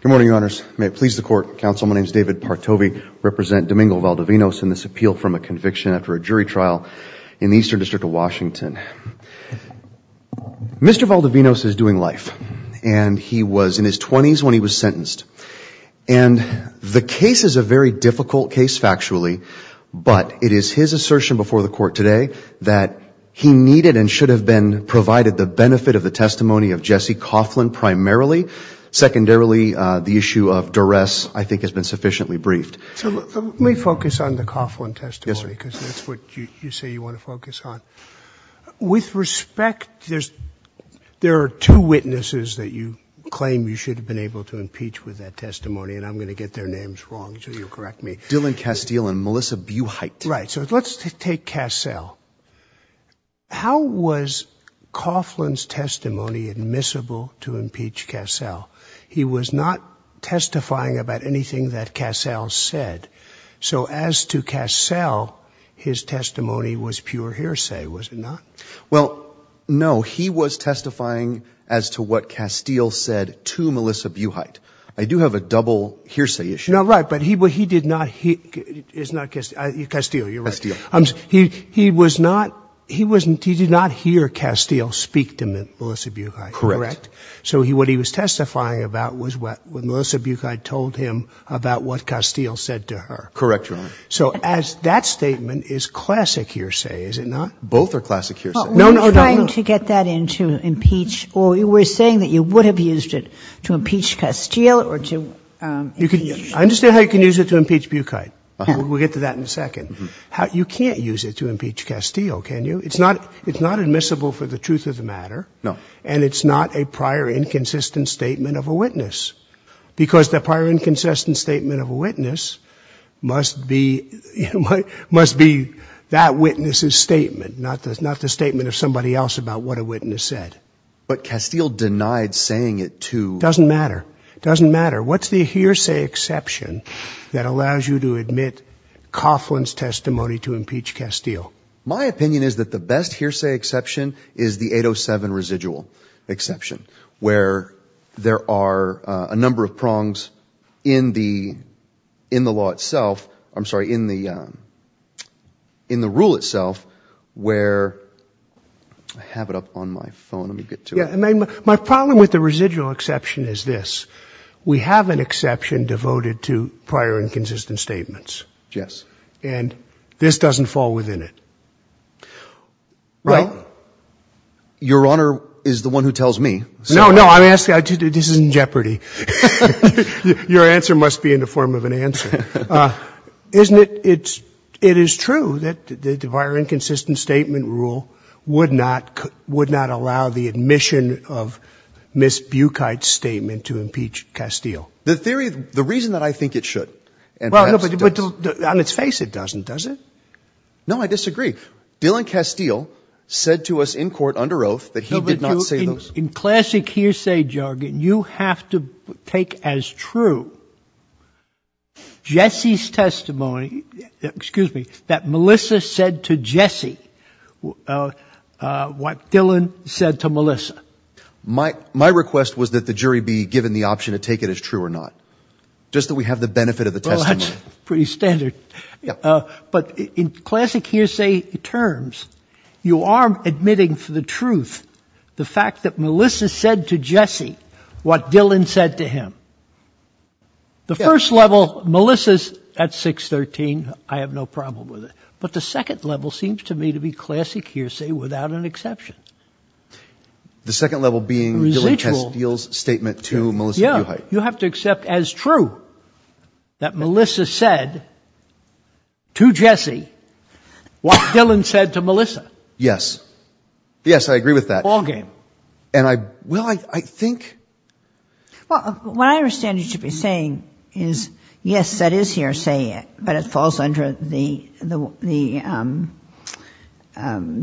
Good morning, your honors. May it please the court, counsel, my name is David Partovi, represent Domingo Valdovinos in this appeal from a conviction after a jury trial in the Eastern District of Washington. Mr. Valdovinos is doing life and he was in his 20s when he was sentenced and the case is a very difficult case factually but it is his assertion before the court today that he needed and should have been provided the benefit of the testimony of Jesse Coughlin primarily. Secondarily, the issue of duress I think has been sufficiently briefed. Let me focus on the Coughlin testimony because that's what you say you want to focus on. With respect, there's there are two witnesses that you claim you should have been able to impeach with that testimony and I'm gonna get their names wrong so you'll correct me. Dylan Castile and Melissa Buhite. Right, so let's take Castile. How was Coughlin's testimony admissible to impeach Castile? He was not testifying about anything that Castile said so as to Castile, his testimony was pure hearsay, was it not? Well, no, he was testifying as to what Castile said to Melissa Buhite. I do have a double hearsay issue. No, right, but he did not, Castile, you're right. He was not, he did not hear Castile speak to Melissa Buhite. Correct. So what he was testifying about was what Melissa Buhite told him about what Castile said to her. Correct, Your Honor. So as that statement is classic hearsay, is it not? Both are classic hearsay. No, no, no. Were you trying to get that in to impeach or you were used it to impeach Castile or to... You can, I understand how you can use it to impeach Buhite. We'll get to that in a second. You can't use it to impeach Castile, can you? It's not, it's not admissible for the truth of the matter. No. And it's not a prior inconsistent statement of a witness because the prior inconsistent statement of a witness must be, must be that witness's statement, not the statement of somebody else about what a witness said. But you're denying saying it to... It doesn't matter. It doesn't matter. What's the hearsay exception that allows you to admit Coughlin's testimony to impeach Castile? My opinion is that the best hearsay exception is the 807 residual exception where there are a number of prongs in the, in the law itself, I'm sorry, in the, in the rule itself where... I have it up on my phone. Let me get to it. Yeah. My problem with the residual exception is this. We have an exception devoted to prior inconsistent statements. Yes. And this doesn't fall within it. Well, Your Honor is the one who tells me. No, no. I'm asking, this is in jeopardy. Your answer must be in the form of an answer. Isn't it, it's, it is true that the prior inconsistent statement rule would not, would not allow the admission of Ms. Bukite's statement to impeach Castile? The theory, the reason that I think it should and perhaps... Well, but on its face it doesn't, does it? No, I disagree. Dylan Castile said to us in court under oath that he did not say those... No, but you, in classic hearsay jargon, you have to take as true Jesse's testimony, excuse me, that Melissa said to Jesse what Dylan said to Melissa. My, my request was that the jury be given the option to take it as true or not. Just that we have the benefit of the testimony. Well, that's pretty standard. But in classic hearsay terms, you are admitting for the truth the fact that Melissa said to Jesse what Dylan said to him. The first level, Melissa's at 613, I have no problem with it. But the second level seems to me to be classic hearsay without an exception. The second level being Dylan Castile's statement to Melissa Bukite. Yeah, you have to accept as true that Melissa said to Jesse what Dylan said to Melissa. Yes. Yes, I agree with that. All game. And I, well, I, I think... Well, what I understand you to be saying is, yes, that is hearsay, but it falls under the, the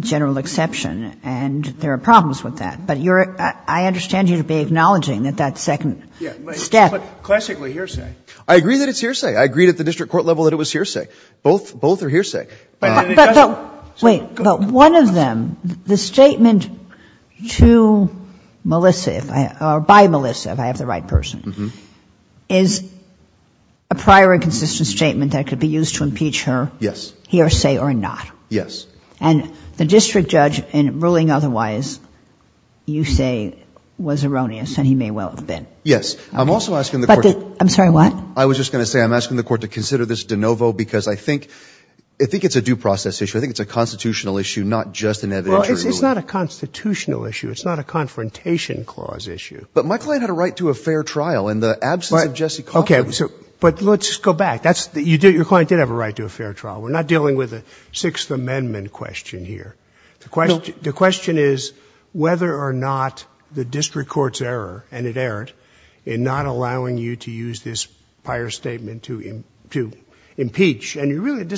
general exception, and there are problems with that. But you're, I understand you to be acknowledging that that second step... Yeah, but classically hearsay. I agree that it's hearsay. I agreed at the district court level that it was hearsay. Both, both are hearsay. Wait, but one of them, the statement to Melissa, if I, or by Melissa, if I have the right person, is a prior and consistent statement that could be used to impeach her. Yes. Hearsay or not. Yes. And the district judge in ruling otherwise, you say was erroneous, and he may well have been. Yes. I'm also asking the court... I'm sorry, what? I was just going to say, I'm asking the court to consider this de novo because I think, I think it's a due process issue. I think it's a constitutional issue, not just an evidentiary ruling. Well, it's, it's not a constitutional issue. It's not a confrontation clause issue. But my client had a right to a fair trial in the absence of Jesse Coffman. Okay, so, but let's just go back. That's, you did, your client did have a right to a fair trial. We're not dealing with a Sixth Amendment question here. The question, the question is whether or not the district court's error, and it really, it doesn't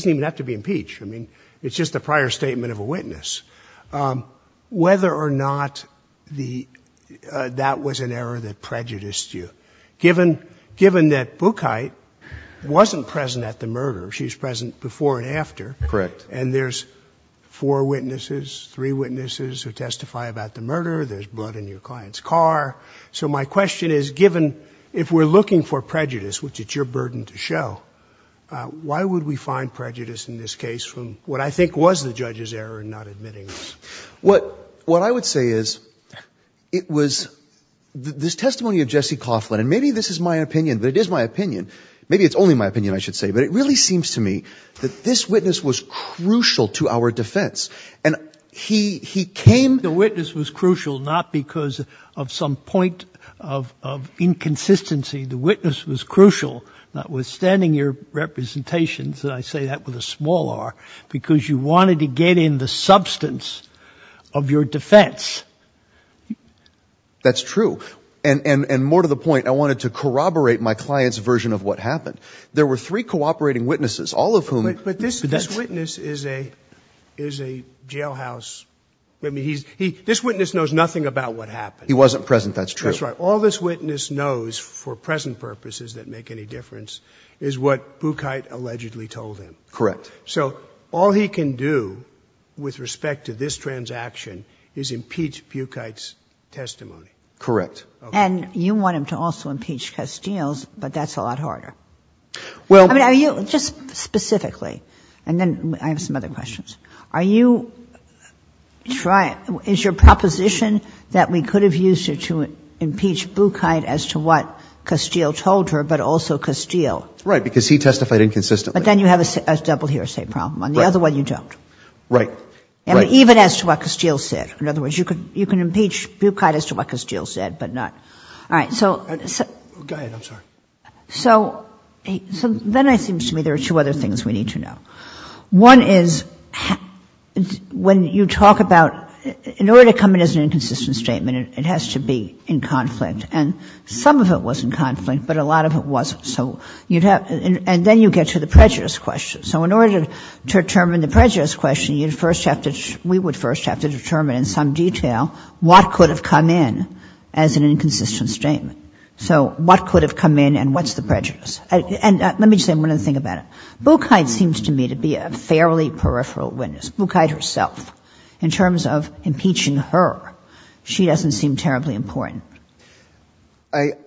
even have to be impeached. I mean, it's just a prior statement of a witness. Whether or not the, that was an error that prejudiced you. Given, given that Bukite wasn't present at the murder. She was present before and after. Correct. And there's four witnesses, three witnesses who testify about the murder. There's blood in your client's car. So my question is, given, if we're looking for prejudice, which it's your burden to show, why would we force a witness to testify and find prejudice in this case from what I think was the judge's error in not admitting this? What, what I would say is, it was, this testimony of Jesse Coffman, and maybe this is my opinion, but it is my opinion. Maybe it's only my opinion, I should say. But it really seems to me that this witness was crucial to our defense. And he, he came. The witness was crucial not because of some point of, of inconsistency. The witness was crucial, notwithstanding your representations that I just made. And I say that with a small r, because you wanted to get in the substance of your defense. That's true. And, and, and more to the point, I wanted to corroborate my client's version of what happened. There were three cooperating witnesses, all of whom... But this, this witness is a, is a jailhouse... I mean, he's, he, this witness knows nothing about what happened. He wasn't present, that's true. That's right. All this witness knows, for present purposes that make any difference, is what Bukite allegedly told him. Correct. So all he can do with respect to this transaction is impeach Bukite's testimony. Correct. And you want him to also impeach Castile's, but that's a lot harder. Well... I mean, are you, just specifically, and then I have some other questions. Are you trying, is your proposition that we could have used her to impeach Bukite as to what Castile said? Right, because he testified inconsistently. But then you have a double hearsay problem. On the other one, you don't. Right. Even as to what Castile said. In other words, you can impeach Bukite as to what Castile said, but not... All right, so... Go ahead, I'm sorry. So, so then it seems to me there are two other things we need to know. One is, when you talk about, in order to come in as an inconsistent statement, it has to be in conflict. And some of it was in conflict, but a lot of it wasn't. And then you get to the prejudice question. So in order to determine the prejudice question, you'd first have to, we would first have to determine in some detail what could have come in as an inconsistent statement. So what could have come in and what's the prejudice? And let me say one other thing about it. Bukite seems to me to be a fairly peripheral witness. Bukite herself. In terms of impeaching her, she doesn't seem terribly important.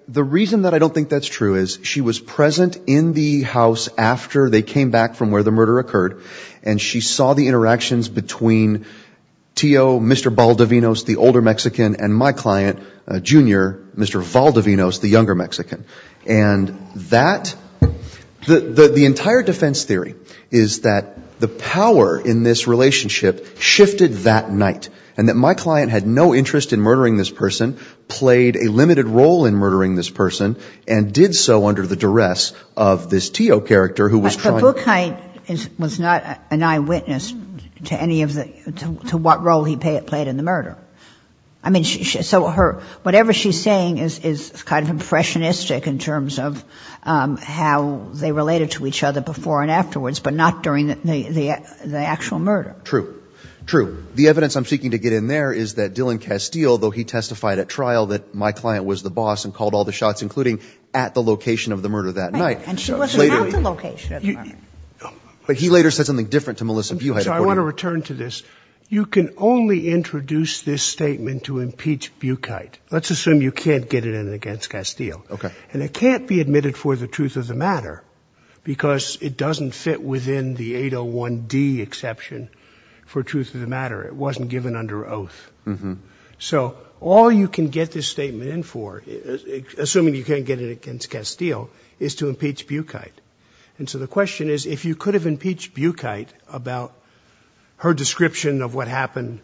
The reason that I don't think that's true is she was present in the house after they came back from where the murder occurred. And she saw the interactions between Tio, Mr. Valdivinos, the older Mexican, and my client, Junior, Mr. Valdivinos, the younger Mexican. And that... The entire defense theory is that the power in this relationship shifted that night. And that my client had no interest in murdering this person, played a limited role in murdering this person, and did so under the duress of this Tio character who was trying... But Bukite was not an eyewitness to any of the, to what role he played in the murder. I mean, so her, whatever she's saying is kind of impressionistic in terms of how they related to each other before and afterwards, but not during the actual murder. True. True. The evidence I'm seeking to get in there is that Dillon Castile, though he testified at trial that my client was the boss and called all the shots, including at the location of the murder that night. Right. And she wasn't at the location of the murder. But he later said something different to Melissa Buhite. So I want to return to this. You can only introduce this statement to impeach Bukite. Let's assume you can't get it in against Castile. Okay. And it can't be admitted for the truth of the matter, because it doesn't fit within the for truth of the matter. It wasn't given under oath. So all you can get this statement in for, assuming you can't get it in against Castile, is to impeach Bukite. And so the question is, if you could have impeached Bukite about her description of what happened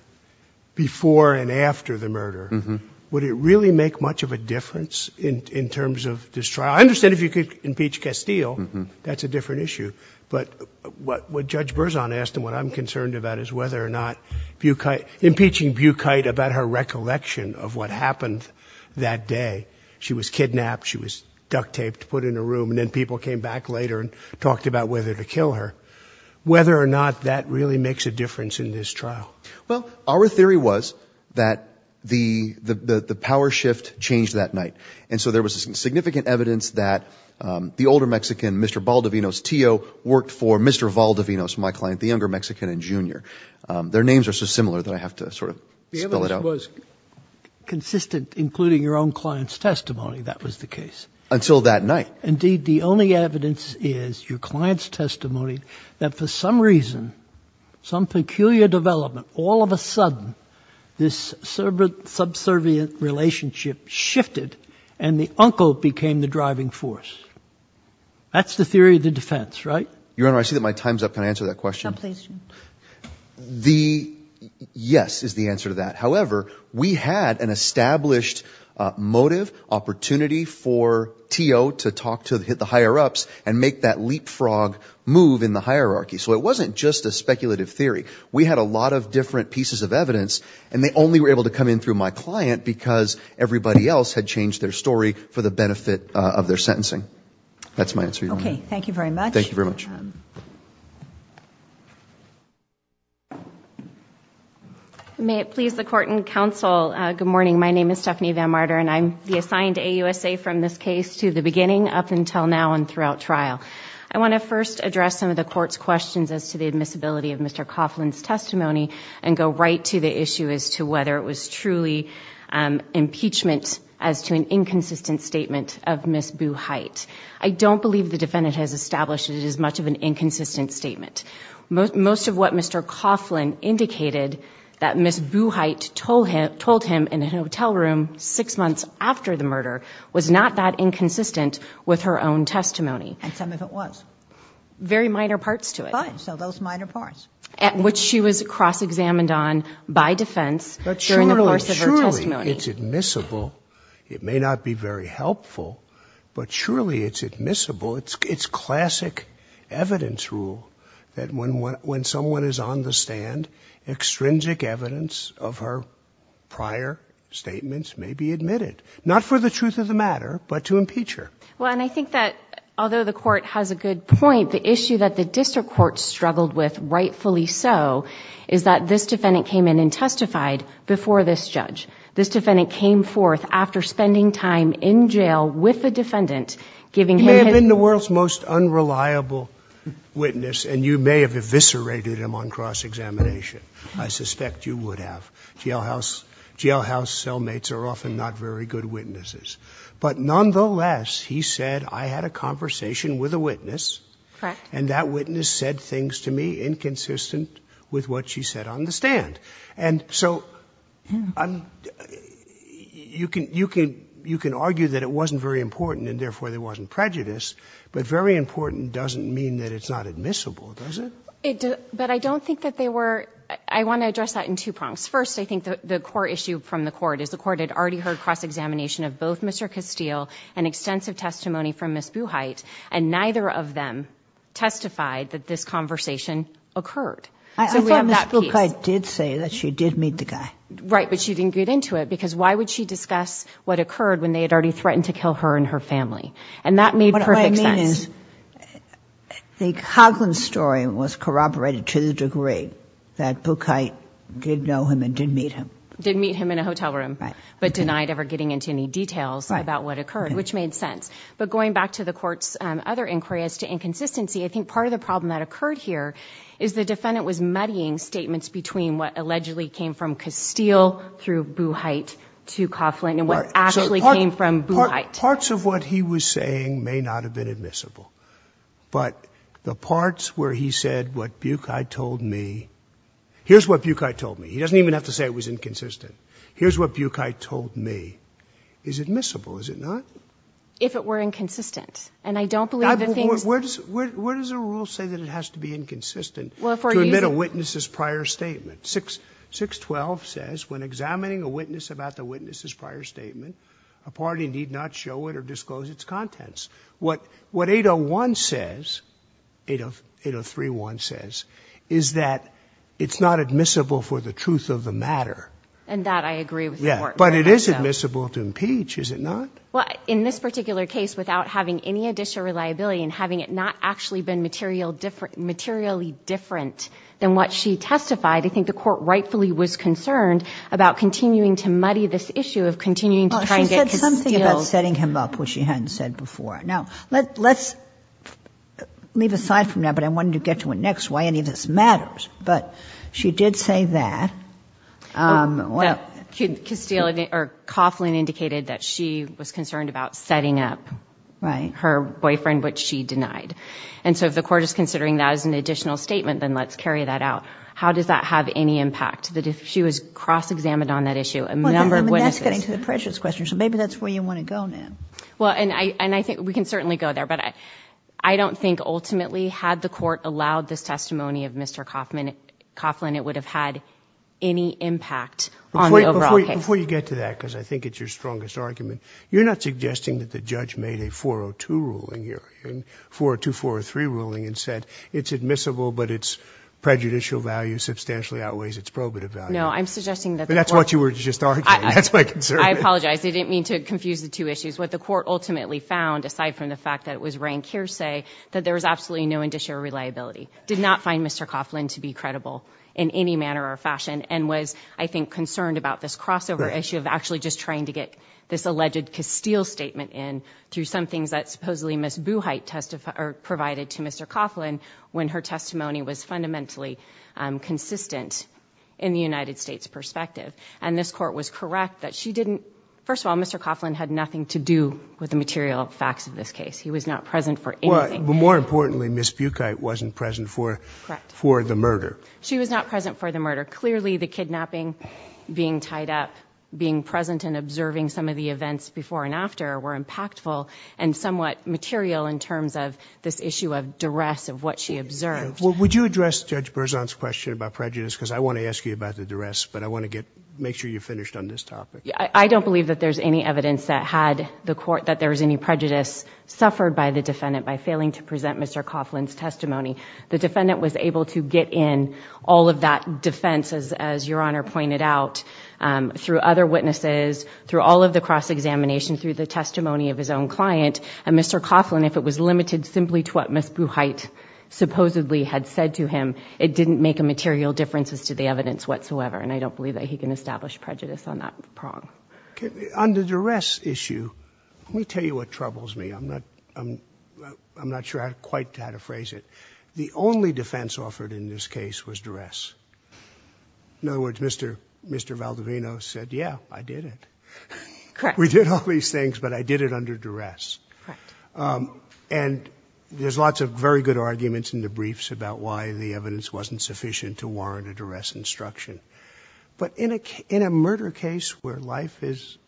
before and after the murder, would it really make much of a difference in terms of this trial? I understand if you could impeach Castile, that's a different issue. But what Judge Bukite, impeaching Bukite about her recollection of what happened that day. She was kidnapped, she was duct taped, put in a room, and then people came back later and talked about whether to kill her. Whether or not that really makes a difference in this trial. Well, our theory was that the power shift changed that night. And so there was some significant evidence that the older Mexican, Mr. Valdivinos Tio, worked for Mr. Valdivinos, my client, the younger Mexican and junior. Their names are so similar that I have to sort of spell it out. The evidence was consistent, including your own client's testimony, that was the case. Until that night. Indeed, the only evidence is your client's testimony that for some reason, some peculiar development, all of a sudden, this subservient relationship shifted and the uncle became the driving force. That's the theory of the defense, right? Your Honor, I see that my time's up. Can I answer that question? Yes, is the answer to that. However, we had an established motive, opportunity for Tio to talk to the higher ups and make that leapfrog move in the hierarchy. So it wasn't just a speculative theory. We had a lot of different pieces of evidence and they only were able to come in through my client because everybody else had changed their story for the benefit of their sentencing. That's my answer, Your Honor. Okay, thank you very much. May it please the Court and Counsel, good morning. My name is Stephanie Van Marder and I'm the assigned AUSA from this case to the beginning up until now and throughout trial. I want to first address some of the Court's questions as to the admissibility of Mr. Coughlin's testimony and go right to the issue as to whether it was truly impeachment as to an inconsistent statement of Ms. Buchheit. I don't believe the defendant has established it is much of an inconsistent statement. Most of what Mr. Coughlin indicated that Ms. Buchheit told him in a hotel room six months after the murder was not that inconsistent with her own testimony. And some of it was. Very minor parts to it. So those minor parts. Which she was cross-examined on by defense during the course of her testimony. But surely it's admissible it may not be very helpful, but surely it's admissible it's classic evidence rule that when someone is on the stand, extrinsic evidence of her prior statements may be admitted. Not for the truth of the matter, but to impeach her. Well, and I think that although the Court has a good point, the issue that the District Court struggled with, rightfully so, is that this defendant came in and testified before this court after spending time in jail with the defendant. You may have been the world's most unreliable witness, and you may have eviscerated him on cross-examination. I suspect you would have. Jailhouse cellmates are often not very good witnesses. But nonetheless, he said, I had a conversation with a witness, and that witness said things to me inconsistent with what she said on the stand. And so you can argue that it wasn't very important, and therefore there wasn't prejudice, but very important doesn't mean that it's not admissible, does it? But I don't think that they were, I want to address that in two prongs. First, I think the core issue from the Court is the Court had already heard cross-examination of both Mr. Castile and extensive testimony from Ms. Buchheit, and neither of them testified that this conversation occurred. I thought Ms. Buchheit did say that she did meet the guy. Right, but she didn't get into it, because why would she discuss what occurred when they had already threatened to kill her and her family? And that made perfect sense. What I mean is, the Coughlin story was corroborated to the degree that Buchheit did know him and did meet him. Did meet him in a hotel room, but denied ever getting into any details about what occurred, which made sense. But going back to the Court's other inquiry as to inconsistency, I think part of the problem that occurred here is the defendant was muddying statements between what allegedly came from Castile through Buchheit to Coughlin and what actually came from Buchheit. Parts of what he was saying may not have been admissible, but the parts where he said what Buchheit told me, here's what Buchheit told me, he doesn't even have to say it was inconsistent, here's what Buchheit told me, is admissible, is it not? If it were inconsistent, and I don't believe that things... Where does the rule say that it has to be inconsistent to admit a witness's prior statement? 612 says, when examining a witness about the witness's prior statement, a party need not show it or disclose its contents. What 801 says, 803-1 says, is that it's not admissible for the truth of the matter. And that I agree with the Court. But it is admissible to impeach, is it not? Well, in this particular case, without having any additional reliability and having it not actually been materially different than what she testified, I think the Court rightfully was concerned about continuing to muddy this issue of continuing to try and get Castile... Well, she said something about setting him up, which she hadn't said before. Now, let's leave aside from that, but I wanted to get to it next, why any of this matters. But she did say that... That Castile or Coughlin indicated that she was concerned about setting up her boyfriend, which she denied. And so if the Court is considering that as an additional statement, then let's carry that out. How does that have any impact? That if she was cross-examined on that issue, a number of witnesses... Well, that's getting to the prejudice question, so maybe that's where you want to go now. Well, and I think we can certainly go there, but I don't think ultimately had the Court allowed this testimony of Mr. Coughlin, it would have had any impact on the overall case. Before you get to that, because I think it's your strongest argument, you're not suggesting that the judge made a 402 ruling here, a 402-403 ruling, and said it's admissible but its prejudicial value substantially outweighs its probative value. No, I'm suggesting that... But that's what you were just arguing, that's my concern. I apologize. I didn't mean to confuse the two issues. What the Court ultimately found, aside from the fact that it was rank hearsay, that there was absolutely no indicia of reliability. Did not find Mr. Coughlin to be credible in any manner or fashion, and was, I think, concerned about this crossover issue of actually just trying to get this alleged Castile statement in through some things that supposedly Ms. Buchheit provided to Mr. Coughlin when her testimony was fundamentally consistent in the United States' perspective. And this Court was correct that she didn't... First of all, Mr. Coughlin had nothing to do with the material facts of this case. He was not present for anything. Well, more importantly, Ms. Buchheit wasn't present for the murder. She was not present for the murder. Clearly, the kidnapping, being tied up, being present and observing some of the events before and after were impactful and somewhat material in terms of this issue of duress of what she observed. Would you address Judge Berzon's question about prejudice? Because I want to ask you about the duress, but I want to make sure you're finished on this topic. I don't believe that there's any evidence that had the Court... that there was any prejudice suffered by the defendant by failing to present Mr. Coughlin's testimony. The defendant was able to get in all of that defense, as Your Honor pointed out, through other witnesses, through all of the cross-examination, through the testimony of his own client. And Mr. Coughlin, if it was limited simply to what Ms. Buchheit supposedly had said to him, it didn't make a material difference as to the evidence whatsoever. And I don't believe that he can establish prejudice on that prong. Okay. On the duress issue, let me tell you what troubles me. I'm not sure quite how to phrase it. The only defense offered in this case was duress. In other words, Mr. Valdivino said, yeah, I did it. Correct. We did all these things, but I did it under duress. And there's lots of very good arguments in the briefs about why the evidence wasn't sufficient to warrant a duress instruction. But in a murder case where life is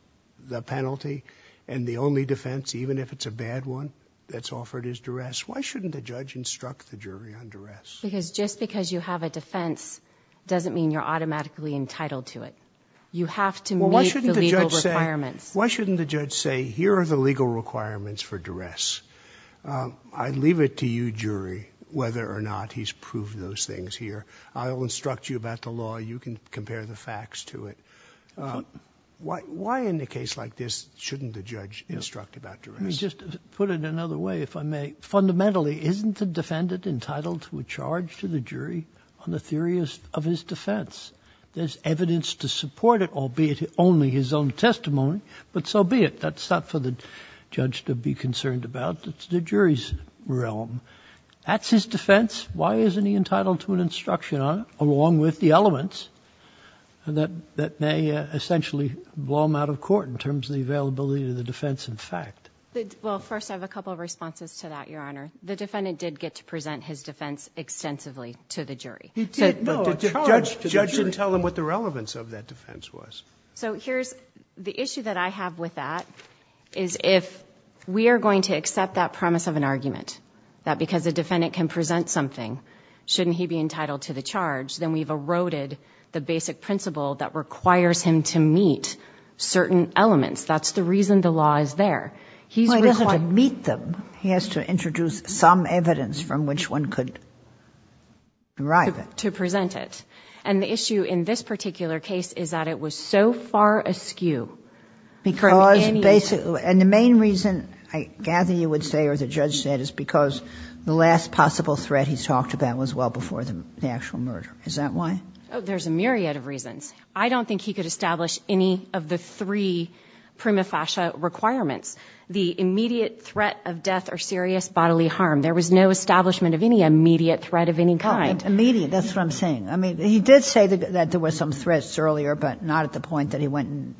the penalty and the only defense, even if it's a bad one, that's offered is the jury under duress. Because just because you have a defense doesn't mean you're automatically entitled to it. You have to meet the legal requirements. Why shouldn't the judge say, here are the legal requirements for duress. I leave it to you, jury, whether or not he's proved those things here. I'll instruct you about the law. You can compare the facts to it. Why in a case like this shouldn't the judge instruct about duress? Let me just put it another way, if I may. Fundamentally, isn't the defendant entitled to a charge to the jury on the theory of his defense? There's evidence to support it, albeit only his own testimony, but so be it. That's not for the judge to be concerned about. It's the jury's realm. That's his defense. Why isn't he entitled to an instruction along with the elements that may essentially blow him out of court in terms of the availability of the defense and fact? Well, first, I have a couple of responses to that, Your Honor. The defendant did get to present his defense extensively to the jury. The judge didn't tell him what the relevance of that defense was. The issue that I have with that is if we are going to accept that promise of an argument, that because a defendant can present something shouldn't he be entitled to the charge, then we've eroded the basic principle that requires him to meet certain elements. That's the reason the law is there. He has to introduce some evidence from which one could derive it. To present it. And the issue in this particular case is that it was so far askew. And the main reason, I gather you would say, or the judge said, is because the last possible threat he's talked about was well before the actual murder. Is that why? Oh, there's a myriad of reasons. I don't think he could establish any of the three prima facie requirements. The immediate threat of death or serious bodily harm. There was no establishment of any immediate threat of any kind. Oh, immediate, that's what I'm saying. He did say that there were some threats earlier, but not at the point that he went and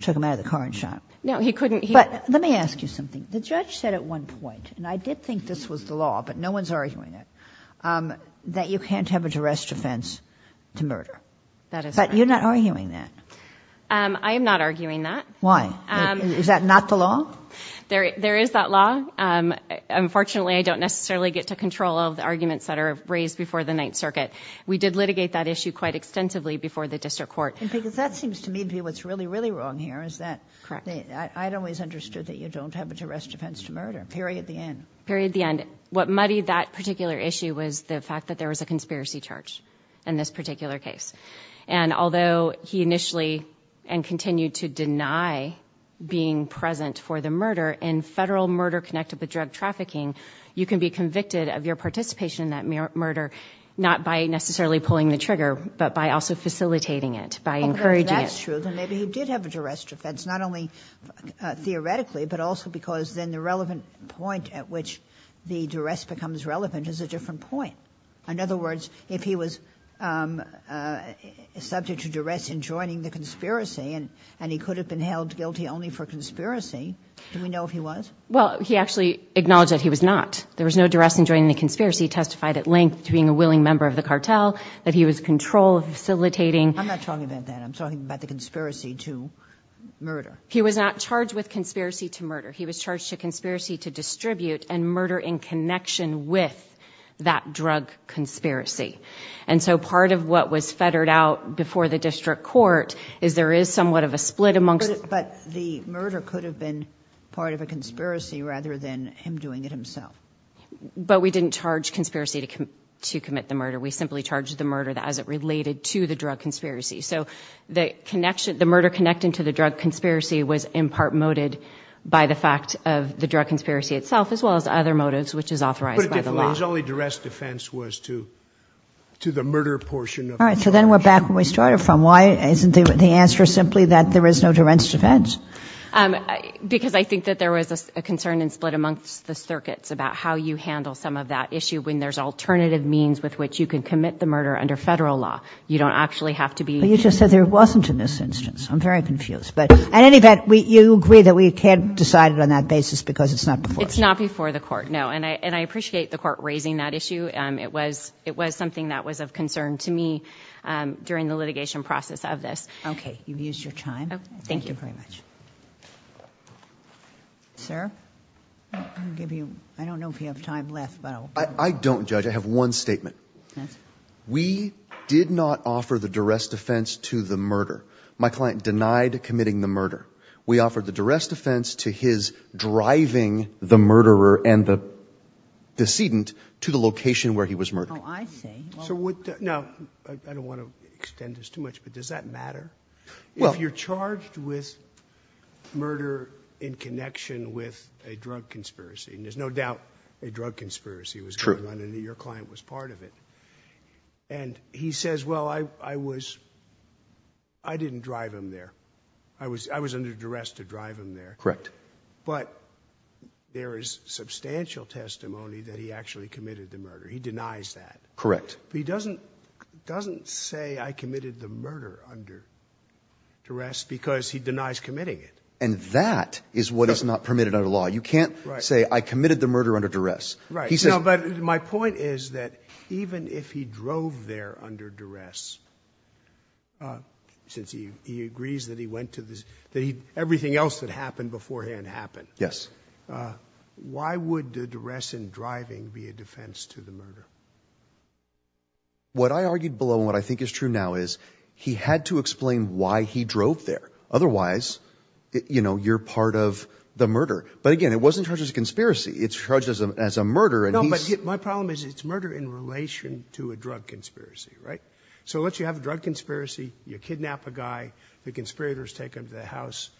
took him out of the car and shot him. No, he couldn't. But let me ask you something. The judge said at one point, and I did think this was the law, but no one's arguing it, that you can't have a duress defense to murder. That is correct. But you're not arguing that. I am not arguing that. Why? Is that not the law? There is that law. Unfortunately, I don't necessarily get to control all of the arguments that are raised before the Ninth Circuit. We did litigate that issue quite extensively before the District Court. Because that seems to me to be what's really, really wrong here. I'd always understood that you don't have a duress defense to murder. Period, the end. Period, the end. What muddied that particular issue was the fact that there was a conspiracy charge in this particular case. And although he initially and continued to deny being present for the murder, in federal murder connected with drug trafficking, you can be convicted of your participation in that murder, not by necessarily pulling the trigger, but by also facilitating it, by encouraging it. That's true. Then maybe he did have a duress defense, not only theoretically, but also because then the relevant point at which the duress becomes relevant is a different point. In other words, if he was subject to duress in joining the conspiracy, and he could have been held guilty only for conspiracy, do we know if he was? Well, he actually acknowledged that he was not. There was no duress in joining the conspiracy. He testified at length to being a willing member of the cartel, that he was in control of facilitating... I'm not talking about that. I'm talking about the conspiracy to murder. He was not charged with conspiracy to murder. He was charged to conspiracy to distribute and murder in connection with that drug conspiracy. Part of what was fettered out before the district court is there is somewhat of a split amongst... But the murder could have been part of a conspiracy rather than him doing it himself. We didn't charge conspiracy to commit the murder. We simply charged the murder as it related to the drug conspiracy. The murder connected to the drug conspiracy was in part moted by the fact of the drug conspiracy itself as well as other motives which is authorized by the law. His only duress defense was to the murder portion. Then we're back where we started from. Why isn't the answer simply that there is no duress defense? Because I think that there was a concern and split amongst the circuits about how you handle some of that issue when there's alternative means with which you can commit the murder under federal law. You don't actually have to be... You just said there wasn't in this instance. I'm very confused. At any event, you agree that we can't decide it on that basis because it's not before us. It's not before the court, no. I appreciate the court raising that issue. It was something that was of concern to me during the litigation process of this. Okay. You've used your time. Thank you very much. Sir? I don't know if you have time left. I don't, Judge. I have one statement. We did not offer the duress defense to the committing the murder. We offered the duress defense to his driving the murderer and the decedent to the location where he was murdered. Oh, I see. I don't want to extend this too much, but does that matter? If you're charged with murder in connection with a drug conspiracy and there's no doubt a drug conspiracy was going on and your client was part of it and he says, well, I was... I didn't drive him there. I was under duress to drive him there. Correct. But there is substantial testimony that he actually committed the murder. He denies that. Correct. He doesn't say I committed the murder under duress because he denies committing it. And that is what is not permitted under law. You can't say I committed the murder under duress. My point is that even if he drove there under duress since he agrees that he went to the everything else that happened beforehand happened. Yes. Why would a duress in driving be a defense to the murder? What I argued below and what I think is true now is he had to explain why he drove there. Otherwise you're part of the murder. But again, it wasn't charged as a conspiracy. It's charged as a murder. No, but my problem is it's murder in relation to a drug conspiracy, right? So let's say you have a drug conspiracy. You kidnap a guy. The conspirators take him to the house.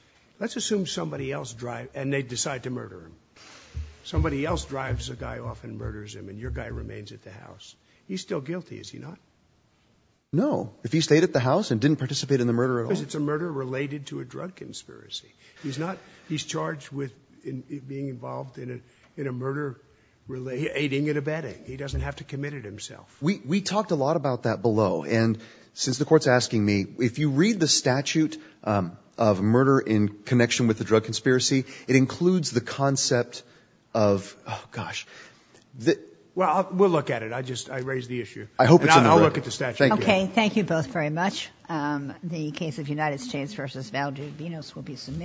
Let's assume somebody else drives and they decide to murder him. Somebody else drives a guy off and murders him and your guy remains at the house. He's still guilty, is he not? No. If he stayed at the house and didn't participate in the murder at all... Because it's a murder related to a drug conspiracy. He's not... He's charged with being involved in a murder relating... Aiding and abetting. He doesn't have to commit it himself. We talked a lot about that below and since the court's asking me, if you read the statute of murder in connection with the drug conspiracy, it includes the concept of... Oh, gosh. Well, we'll look at it. I just raised the issue. I hope it's in the record. I'll look at the statute. Okay. Thank you both very much. The case of United States v. Valdivinos will be submitted.